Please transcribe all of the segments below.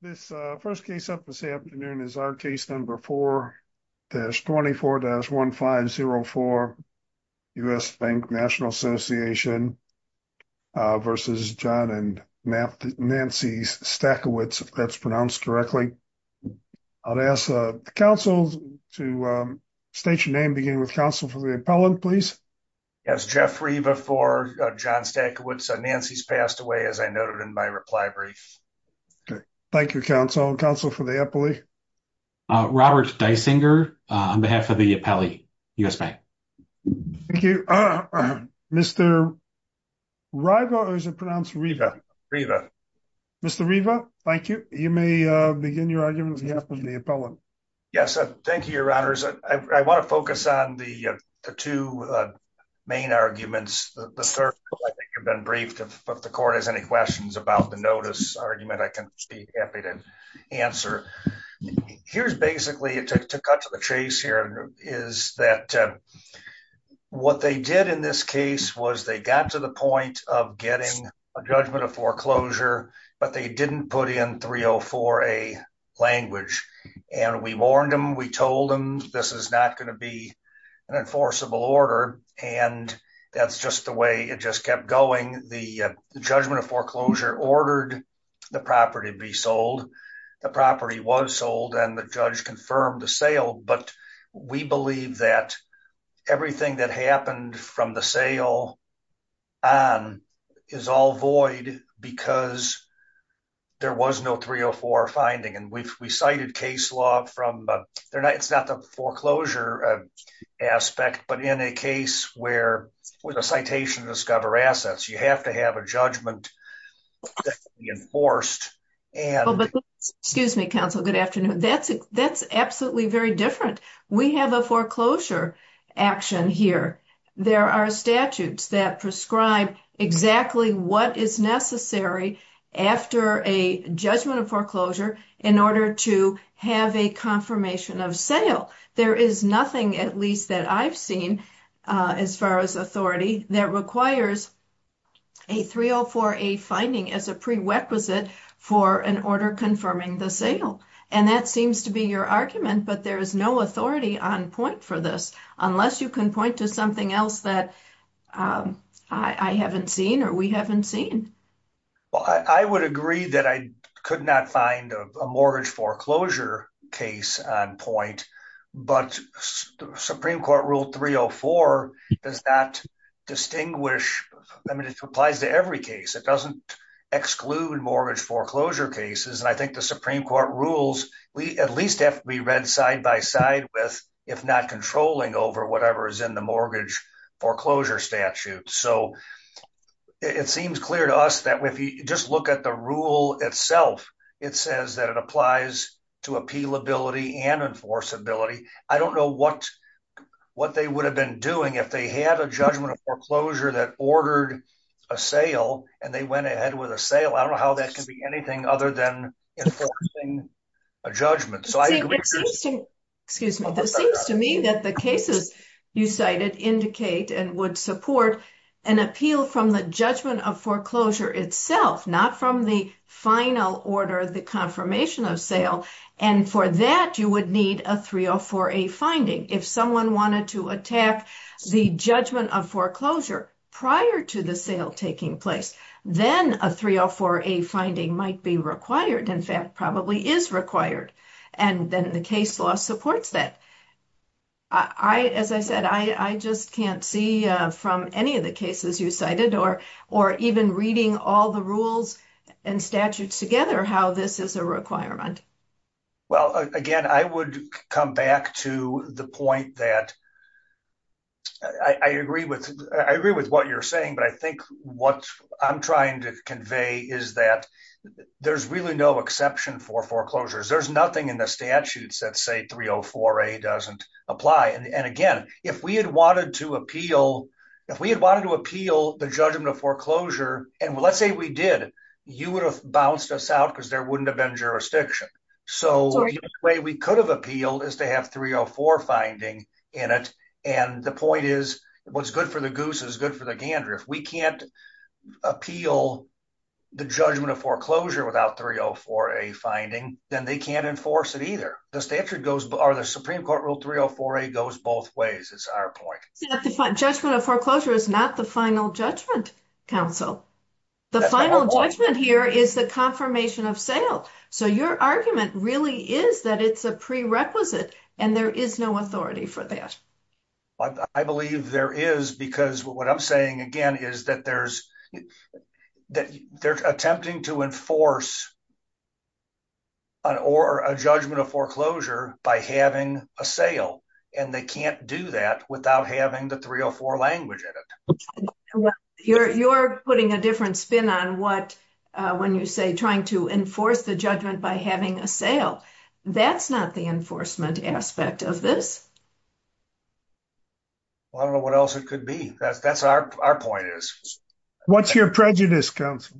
This first case up this afternoon is our case number 4-24-1504 U.S. Bank National Association v. John and Nancy Stachewicz, if that's pronounced correctly. I'll ask the counsel to state your name, beginning with counsel for the appellant, please. Yes, Jeffrey before John Stachewicz. Nancy's passed away, as I noted in my reply brief. Okay, thank you, counsel. Counsel for the appellate? Robert Dysinger on behalf of the appellate, U.S. Bank. Thank you. Mr. Riva, or is it pronounced Riva? Mr. Riva, thank you. You may begin your argument on behalf of the appellant. Yes, thank you, your honors. I want to focus on the two main arguments. The first, I think you've been briefed. If the court has any questions about the notice argument, I can be happy to answer. Here's basically, to cut to the chase here, is that what they did in this case was they got to the point of getting a judgment of foreclosure, but they didn't put in 304A language. And we warned them, we told them this is not going to be an enforceable order. And that's just the way it just kept going. The judgment of foreclosure ordered the property be sold. The property was sold and the judge confirmed the sale. But we believe that everything that happened from the sale on is all void because there was no 304 finding. And we've recited case from, it's not the foreclosure aspect, but in a case where with a citation of discover assets, you have to have a judgment enforced. Excuse me, counsel. Good afternoon. That's absolutely very different. We have a foreclosure action here. There are statutes that prescribe exactly what is necessary after a judgment of foreclosure in order to have a confirmation of sale. There is nothing, at least that I've seen, as far as authority that requires a 304A finding as a prerequisite for an order confirming the sale. And that seems to be your argument, but there is no authority on point for this, unless you can point to something else that I haven't seen or we haven't seen. Well, I would agree that I could not find a mortgage foreclosure case on point, but Supreme Court rule 304 does not distinguish. I mean, it applies to every case. It doesn't exclude mortgage foreclosure cases. And I think the Supreme Court rules, we at least have to be read side by side with, if not controlling over whatever is in the mortgage foreclosure statute. So it seems clear to us that if you just look at the rule itself, it says that it applies to appealability and enforceability. I don't know what they would have been doing if they had a judgment of foreclosure that ordered a sale and they went ahead with a sale. I don't know how that can be anything other than enforcing a judgment. It seems to me that the cases you cited indicate and would support an appeal from the judgment of foreclosure itself, not from the final order of the confirmation of sale. And for that, you would need a 304A finding. If someone wanted to attack the judgment of foreclosure prior to the sale taking place, then a 304A finding might be required. In fact, probably is required. And then the case law supports that. As I said, I just can't see from any of the cases you cited or even reading all the rules and statutes together how this is a requirement. Well, again, I would come back to the point that I agree with what you're saying, but I think what I'm trying to convey is that there's really no exception for foreclosures. There's nothing in the statutes that say 304A doesn't apply. And again, if we had wanted to appeal, if we had wanted to appeal the judgment of foreclosure, and let's say we did, you would have bounced us out because there wouldn't have been jurisdiction. So the way we could have appealed is to have 304 finding in it. And the point is, what's good for the goose is good for the gander. If we can't appeal the judgment of foreclosure without 304A finding, then they can't enforce it either. The statute goes, or the Supreme Court rule 304A goes both ways. It's our point. Judgment of foreclosure is not the final judgment, counsel. The final judgment here is the confirmation of sale. So your argument really is that it's a prerequisite and there is no authority for that. I believe there is, because what I'm saying again is that there's they're attempting to enforce a judgment of foreclosure by having a sale, and they can't do that without having the 304 language in it. You're putting a different spin on what, when you say trying to enforce the judgment by having a sale. That's not the enforcement aspect of this. Well, I don't know what else it could be. That's our point is. What's your prejudice, counsel?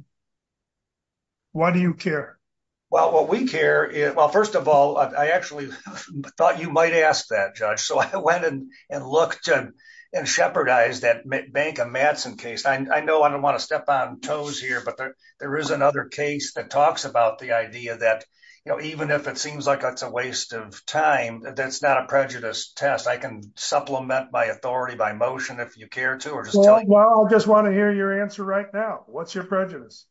Why do you care? Well, what we care is, well, first of all, I actually thought you might ask that, Judge. So I went and looked and shepherdized that Bank of Madison case. I know I don't want to step on toes here, but there is another case that talks about the idea that, you know, even if it seems like it's a waste of time, that's not a prejudice test. I can supplement my authority by motion if you care to, or just tell you. Well, I just want to hear your answer right now. What's your prejudice?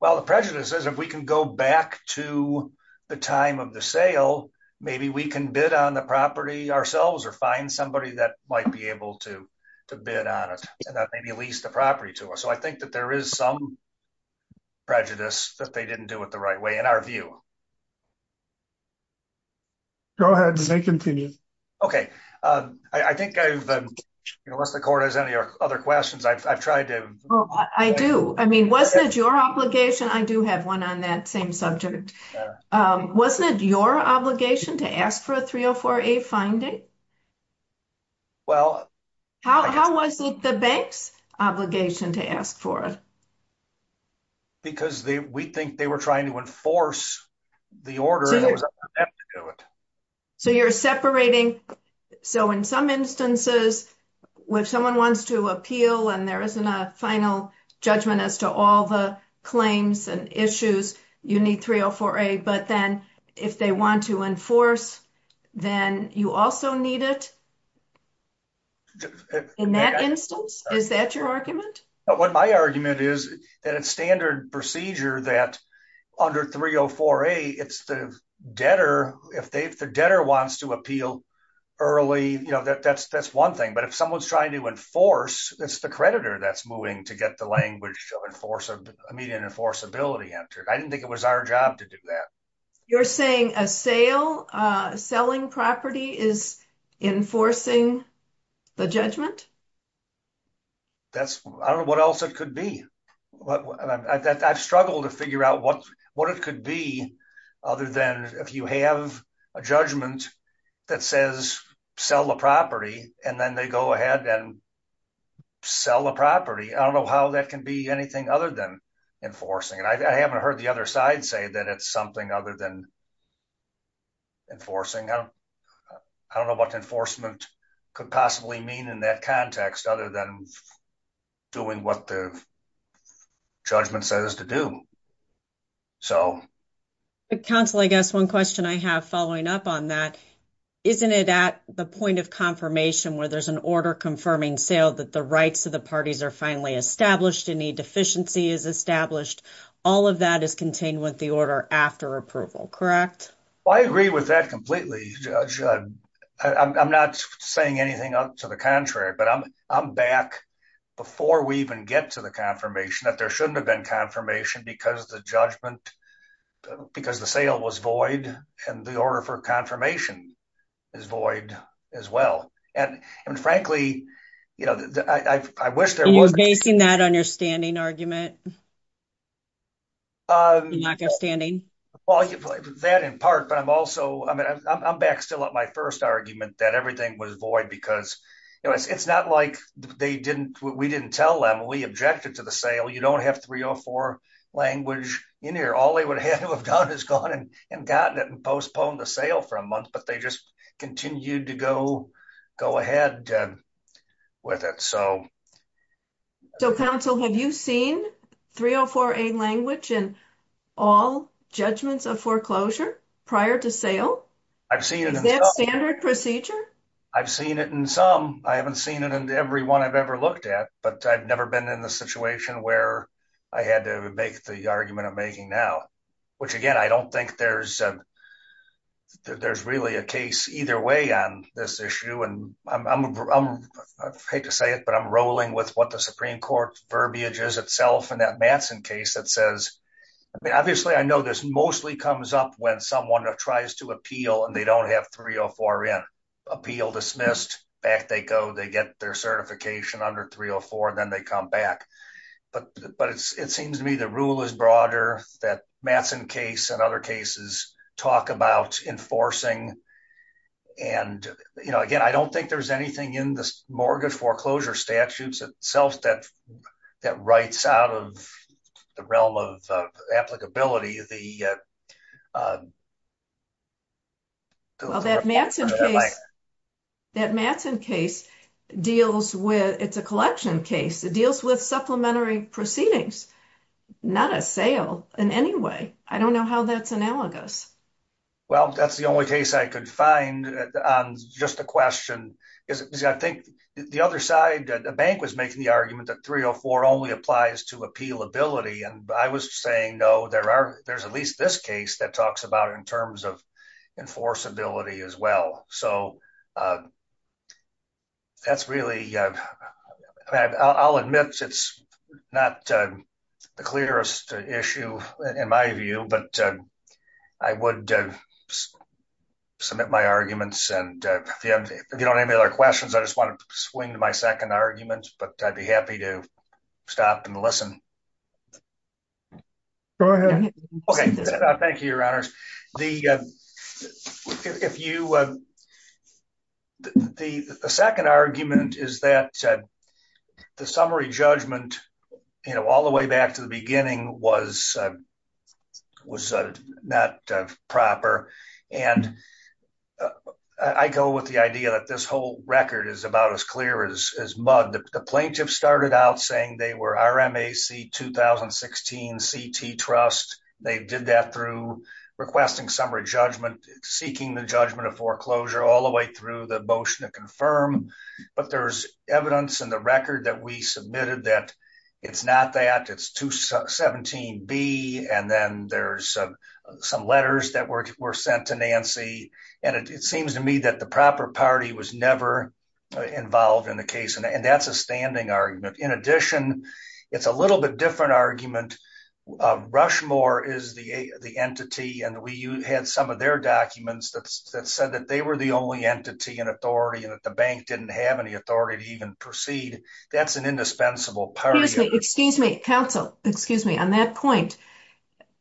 Well, the prejudice is if we can go back to the time of the sale, maybe we can bid on the property ourselves or find somebody that might be able to bid on it, and that maybe lease the property to us. So I think that there is some prejudice that they didn't do it the right way, in our view. Go ahead. Continue. Okay. I think I've, unless the court has any other questions, I've tried to. Oh, I do. I mean, wasn't it your obligation? I do have one on that same subject. Wasn't it your obligation to ask for a 304A finding? Well. How was it the bank's obligation to ask for it? Because we think they were trying to enforce the order. So you're separating. So in some instances, if someone wants to appeal and there isn't a final judgment as to all the claims and issues, you need 304A. But then if they want to enforce, then you also need it in that instance? Is that your argument? What my argument is that it's standard procedure that under 304A, it's the debtor. If the debtor wants to appeal early, that's one thing. But if someone's trying to enforce, it's the creditor that's moving to get the language of immediate enforceability entered. I didn't think it was our job to do that. You're saying a sale, selling property is enforcing the judgment? I don't know what else it could be. I've struggled to figure out what it could be other than if you have a judgment that says sell the property, and then they go ahead and sell the property. I don't know how that can be anything other than enforcing. And I haven't heard the other side say that it's something other than enforcing. I don't know what enforcement could possibly mean in that context other than doing what the judgment says to do. Counsel, I guess one question I have following up on that, isn't it at the point of confirmation where there's an order confirming sale that the rights of the parties are finally established, a deficiency is established, all of that is contained with the order after approval, correct? I agree with that completely, Judge. I'm not saying anything to the contrary, but I'm back before we even get to the confirmation that there shouldn't have been confirmation because the sale was void and the order for confirmation is void as well. And frankly, you know, I wish there was... Are you basing that on your standing argument? Well, that in part, but I'm also, I mean, I'm back still at my first argument that everything was void because it's not like they didn't, we didn't tell them, we objected to the sale. You don't have 304 language in here. All they would have had to have done is gone and gotten it and with it. So. So counsel, have you seen 304A language in all judgments of foreclosure prior to sale? I've seen it in some. Is that standard procedure? I've seen it in some. I haven't seen it in every one I've ever looked at, but I've never been in the situation where I had to make the argument I'm making now, which again, I don't think there's really a case either way on this issue. And I'm, I'm, I hate to say it, but I'm rolling with what the Supreme court verbiage is itself. And that Matson case that says, I mean, obviously I know this mostly comes up when someone tries to appeal and they don't have 304 in. Appeal dismissed, back they go, they get their certification under 304 and then they come back. But, but it's, it seems to me the rule is broader that Matson case and other cases talk about enforcing. And, you know, again, I don't think there's anything in this mortgage foreclosure statutes itself that, that writes out of the realm of applicability, the. Well, that Matson case, that Matson case deals with, it's a collection case. It deals with supplementary proceedings, not a sale in any way. I don't know how that's analogous. Well, that's the only case I could find on just a question is I think the other side that the bank was making the argument that 304 only applies to appealability. And I was saying, no, there are, there's at least this case that talks about in terms of enforceability as well. So that's really, I'll admit it's not the clearest issue in my view, but I would submit my arguments and if you don't have any other questions, I just want to swing to my second argument, but I'd be happy to stop and listen. Go ahead. Okay. Thank you, your honors. The, uh, if you, uh, the, the second argument is that the summary judgment, you know, all the way back to the beginning was, uh, was not proper. And I go with the idea that this whole record is about as clear as mud. The plaintiff started out saying they were RMAC 2016 CT trust. They did that through requesting summary judgment, seeking the judgment of foreclosure all the way through the motion to confirm, but there's evidence in the record that we submitted that it's not that it's 217B. And then there's some letters that were sent to Nancy. And it seems to me that the proper party was never involved in the case. And that's a standing argument. In addition, it's a little bit different argument. Rushmore is the, the entity, and we had some of their documents that said that they were the only entity and authority and that the bank didn't have any authority to even proceed. That's an indispensable part. Excuse me, counsel, excuse me on that point.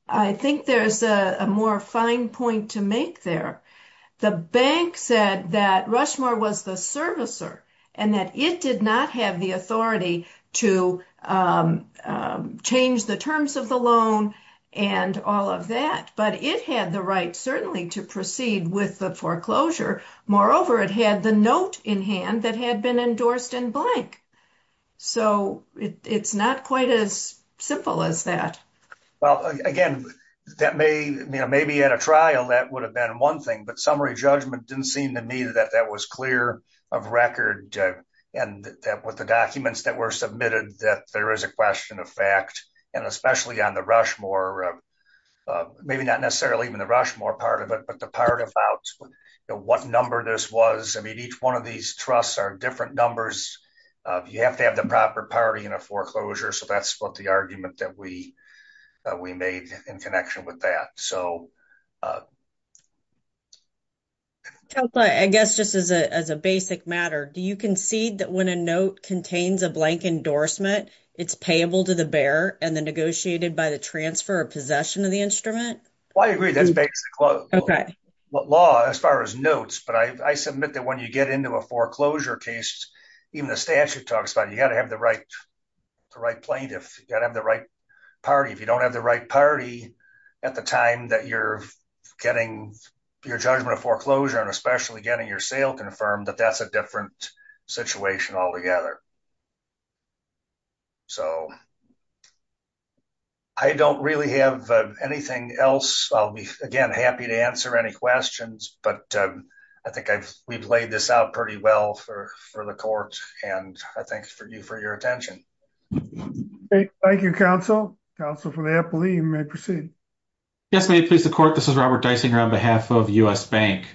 I think there's a more fine point to make there. The bank said that Rushmore was the servicer and that it did not have the authority to, um, um, change the terms of the loan and all of that, but it had the right certainly to proceed with the foreclosure. Moreover, it had the note in hand that had been endorsed in blank. So it's not quite as simple as that. Well, again, that may, you know, maybe at a trial, that would have been one thing, but summary judgment didn't seem to me that that was clear of record and that with the documents that were submitted, that there is a question of fact, and especially on the Rushmore, uh, maybe not necessarily even the Rushmore part of it, but the part about what number this was. I mean, each one of these trusts are different numbers. Uh, you have to have the proper party in a foreclosure. So that's what the argument that we, uh, we made in connection with that. So, uh, I guess just as a, as a basic matter, do you concede that when a note contains a blank endorsement, it's payable to the bearer and then negotiated by the transfer or possession of the instrument? Well, I agree that's basic law as far as notes, but I, I submit that when you get into a foreclosure case, even the statute talks about, you got to have the right, the right plaintiff, you got to have the right party. If you don't have the right party at the time that you're getting your judgment of foreclosure and especially getting your sale confirmed that that's a different situation altogether. So I don't really have anything else. I'll be again, happy to answer any questions, but I think I've, we've laid this out pretty well for, for the court and I thank you for your attention. Thank you, counsel, counsel for the appellee. You may proceed. Yes, may it please the court. This is Robert Dysinger on behalf of U.S. Bank.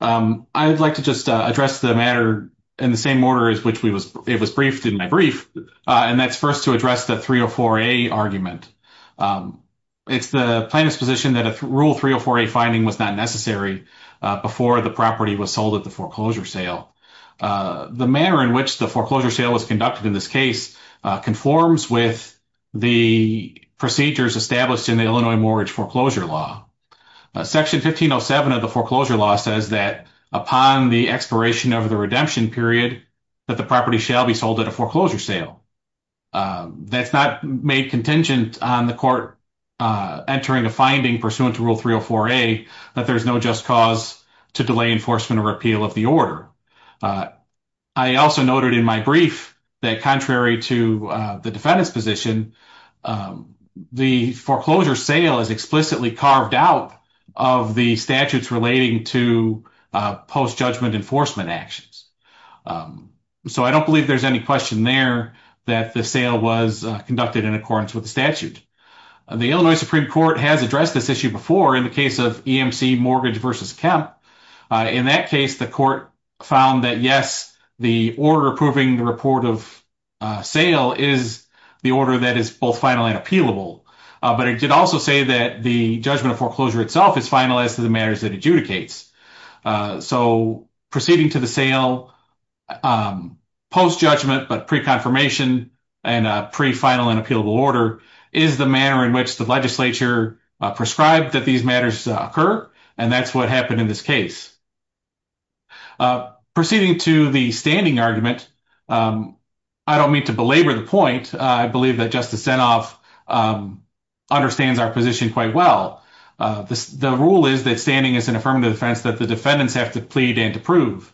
I would like to just address the matter in the same order as which we was, it was briefed in my brief, and that's first to address the 304A argument. It's the plaintiff's position that a rule 304A finding was not necessary before the property was sold at the foreclosure sale. The manner in which the foreclosure sale was conducted in this case conforms with the procedures established in the Illinois mortgage foreclosure law. Section 1507 of the foreclosure law says that upon the expiration of the redemption period, that the property shall be sold at a foreclosure sale. That's not made contingent on the court entering a finding pursuant to rule 304A that there's no just cause to delay enforcement or repeal of the order. I also noted in my brief that contrary to the defendant's position, the foreclosure sale is explicitly carved out of the statutes relating to post-judgment enforcement actions. So I don't believe there's any question there that the sale was conducted in accordance with the statute. The Illinois Supreme Court has addressed this issue before in the case of EMC Mortgage v. Kemp. In that case, the court found that, yes, the order approving the report of sale is the order that is both final and appealable, but it did also say that the judgment of foreclosure itself is finalized to the court. So proceeding to the sale post-judgment but pre-confirmation and pre-final and appealable order is the manner in which the legislature prescribed that these matters occur, and that's what happened in this case. Proceeding to the standing argument, I don't mean to belabor the point. I believe that Justice Zinoff understands our position quite well. The rule is that standing is an affirmative defense that the defendants have to plead and to prove,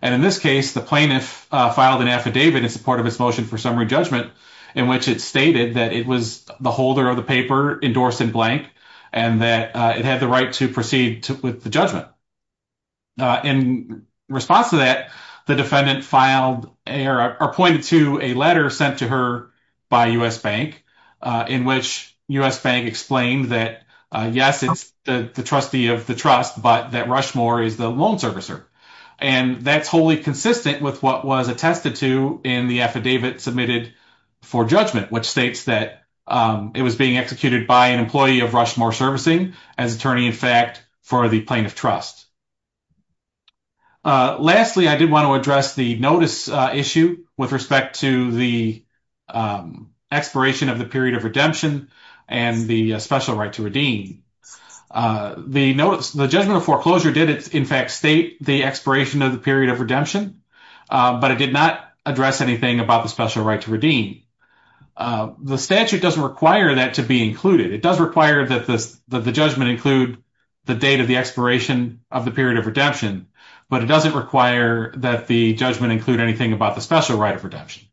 and in this case, the plaintiff filed an affidavit in support of his motion for summary judgment in which it stated that it was the holder of the paper endorsed in blank and that it had the right to proceed with the judgment. In response to that, the defendant pointed to a letter sent to her by U.S. Bank in which U.S. Bank explained that, yes, it's the trustee of the trust, but that Rushmore is the loan servicer, and that's wholly consistent with what was attested to in the affidavit submitted for judgment, which states that it was being executed by an employee of Rushmore Servicing as attorney-in-fact for the plaintiff trust. Lastly, I did want to address the notice issue with respect to the expiration of the period of redemption and the special right to redeem. The judgment of foreclosure did, in fact, state the expiration of the period of redemption, but it did not address anything about the special right to redeem. The statute doesn't require that to be included. It does require that the judgment include the date of the expiration of the period of redemption, but it doesn't require that the judgment include anything about the special right of redemption.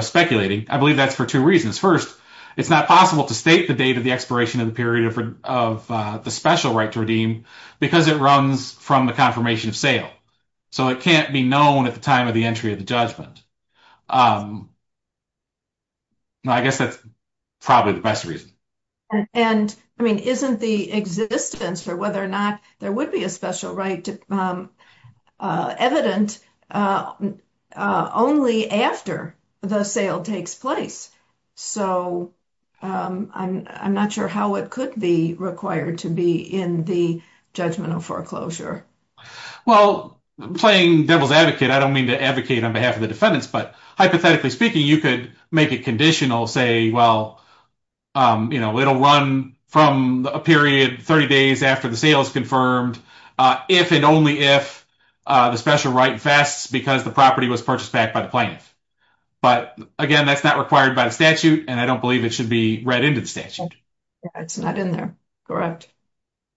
Speculating, I believe that's for two reasons. First, it's not possible to state the date of the expiration of the period of the special right to redeem because it runs from the confirmation of sale, so it can't be known at the time of the entry of the judgment. I guess that's probably the best reason. And isn't the existence for whether or not there would be a special right evident only after the sale takes place? So, I'm not sure how it could be required to be in the judgment of foreclosure. Well, playing devil's advocate, I don't mean to advocate on behalf of the defendants, but hypothetically speaking, you could make it conditional, say, well, you know, it'll run from a period 30 days after the sale is confirmed if and only if the special right vests because the property was purchased back by the plaintiff. But again, that's not required by the statute, and I don't believe it should be read into the statute. It's not in there, correct.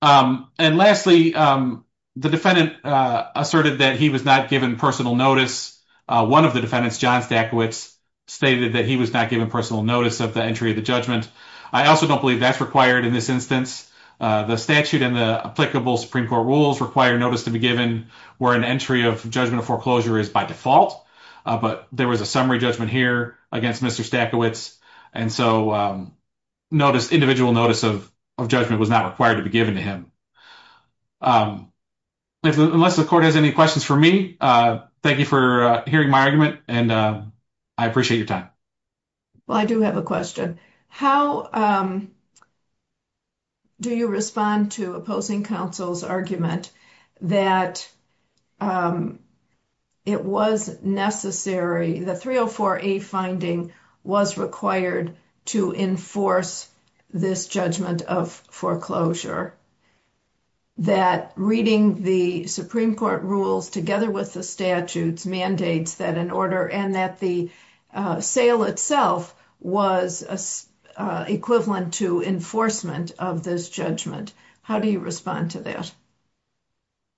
And lastly, the defendant asserted that he was not given personal notice. One of the defendants, John Stackowitz, stated that he was not given personal notice of the entry of the judgment. I also don't believe that's required in this instance. The statute and the applicable Supreme Court rules require notice to be given where an entry of judgment of foreclosure is by default. But there was a summary judgment here against Mr. Stackowitz, and so individual notice of judgment was not required to be given to him. Unless the court has any questions for me, thank you for hearing my argument, and I appreciate your time. Well, I do have a question. How do you respond to opposing counsel's argument that it was necessary, the 304A finding was required to enforce this judgment of foreclosure, that reading the Supreme Court rules together with the statute's mandates that an order and that the sale itself was equivalent to enforcement of this judgment? How do you respond to that?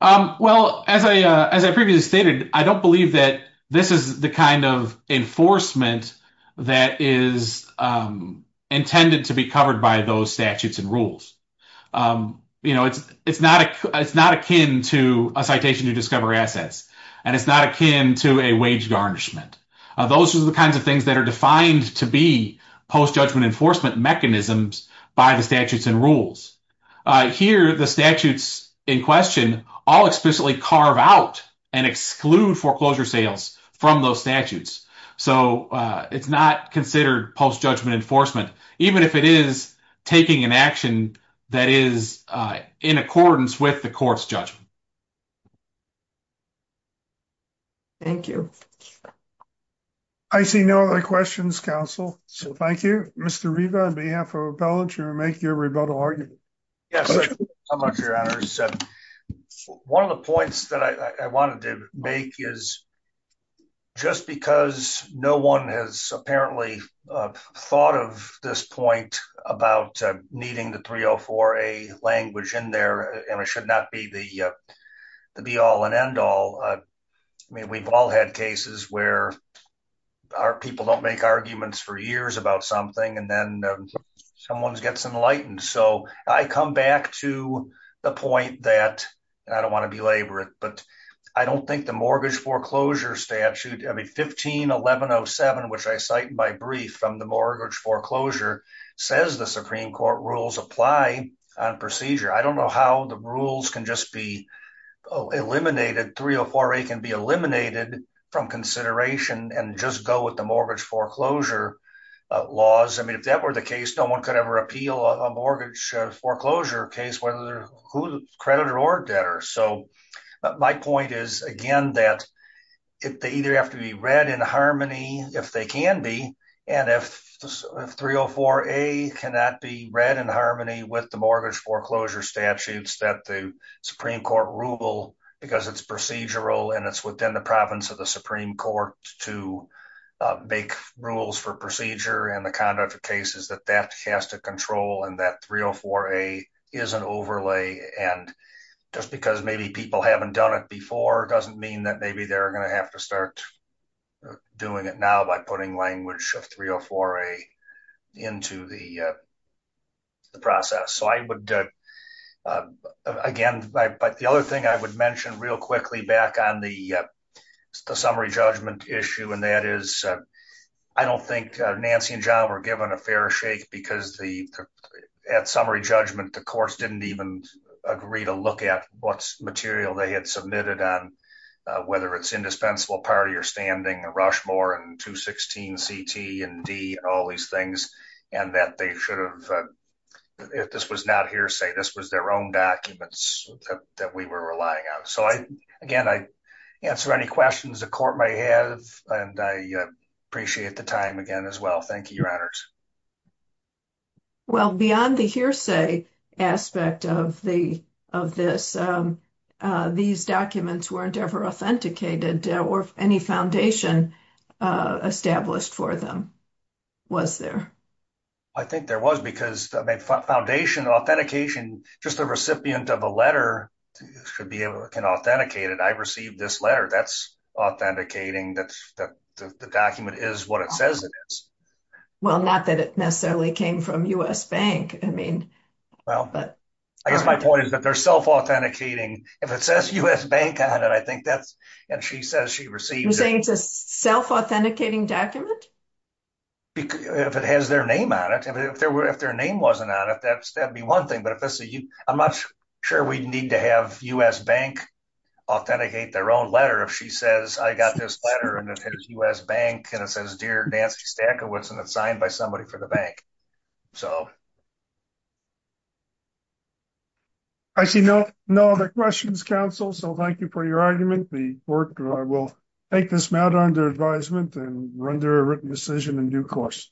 Well, as I previously stated, I don't believe that this is the kind of enforcement that is intended to be covered by those statutes and rules. It's not akin to a citation to discover assets, and it's not akin to a wage garnishment. Those are the kinds of things that are defined to be post-judgment enforcement mechanisms by the statutes and rules. Here, the statutes in question all explicitly carve out and exclude foreclosure sales from those statutes, so it's not considered post-judgment enforcement, even if it is taking an action that is in accordance with the court's judgment. Thank you. I see no other questions, counsel, so thank you. Mr. Riva, on behalf of Appellate, you may make your rebuttal argument. Yes, thank you so much, Your Honors. One of the points that I wanted to make is, just because no one has apparently thought of this point about needing the 304a language in there, and it should not be the be-all and end-all, I mean, we've all had cases where people don't make arguments for years about something, and then someone gets enlightened, so I come back to the point that, I don't want to belabor it, but I don't think the mortgage foreclosure statute, I mean, 15-1107, which I cite in my brief from the mortgage foreclosure, says the Supreme Court rules apply on procedure. I don't know how the rules can just be eliminated, 304a can be eliminated from consideration and just go with the mortgage foreclosure laws. I mean, if that were the case, no one could ever appeal a mortgage foreclosure case, whether they're creditor or debtor, so my point is, again, that they either have to be read in harmony, if they can be, and if 304a cannot be read in harmony with the mortgage foreclosure statutes that the Supreme Court rule, because it's procedural, and it's within the province of the Supreme Court to make rules for procedure and the conduct of cases, that that has to control, and that 304a is an overlay, and just because maybe people haven't done it before, doesn't mean that maybe they're going to have to start doing it now by putting language of 304a into the process, so I would, again, but the other thing I would mention real quickly back on the summary judgment issue, and that is, I don't think Nancy and John were given a fair shake, because at summary judgment, the courts didn't even agree to look at what material they had submitted on whether it's indispensable, party, or standing, or Rushmore, and 216ct, and D, and all these things, and that they should have, if this was not hearsay, this was their own documents that we were relying on, so I, again, I answer any questions the court may have, and I appreciate the time again as well. Thank you, your honors. Well, beyond the hearsay aspect of the, of this, these documents weren't ever authenticated, or any foundation established for them, was there? I think there was, because, I mean, foundation authentication, just the recipient of a letter should be able, can authenticate it, I received this letter, that's authenticating that the document is what it says it is. Well, not that it necessarily came from U.S. Bank, I mean, well, but. I guess my point is that they're self-authenticating, if it says U.S. Bank on it, I think that's, and she says she received. You're saying it's a self-authenticating document? If it has their name on it, if there were, if their name wasn't on it, that's, that'd be one thing, but if this is, I'm not sure we need to have U.S. Bank authenticate their own letter, if she says, I got this letter, and it says U.S. Bank, and it says, Dear Nancy Stackawitz, and it's signed by somebody for the bank, so. I see no, no other questions, counsel, so thank you for your argument, the work, we'll take this matter under advisement, and render a written decision in due course.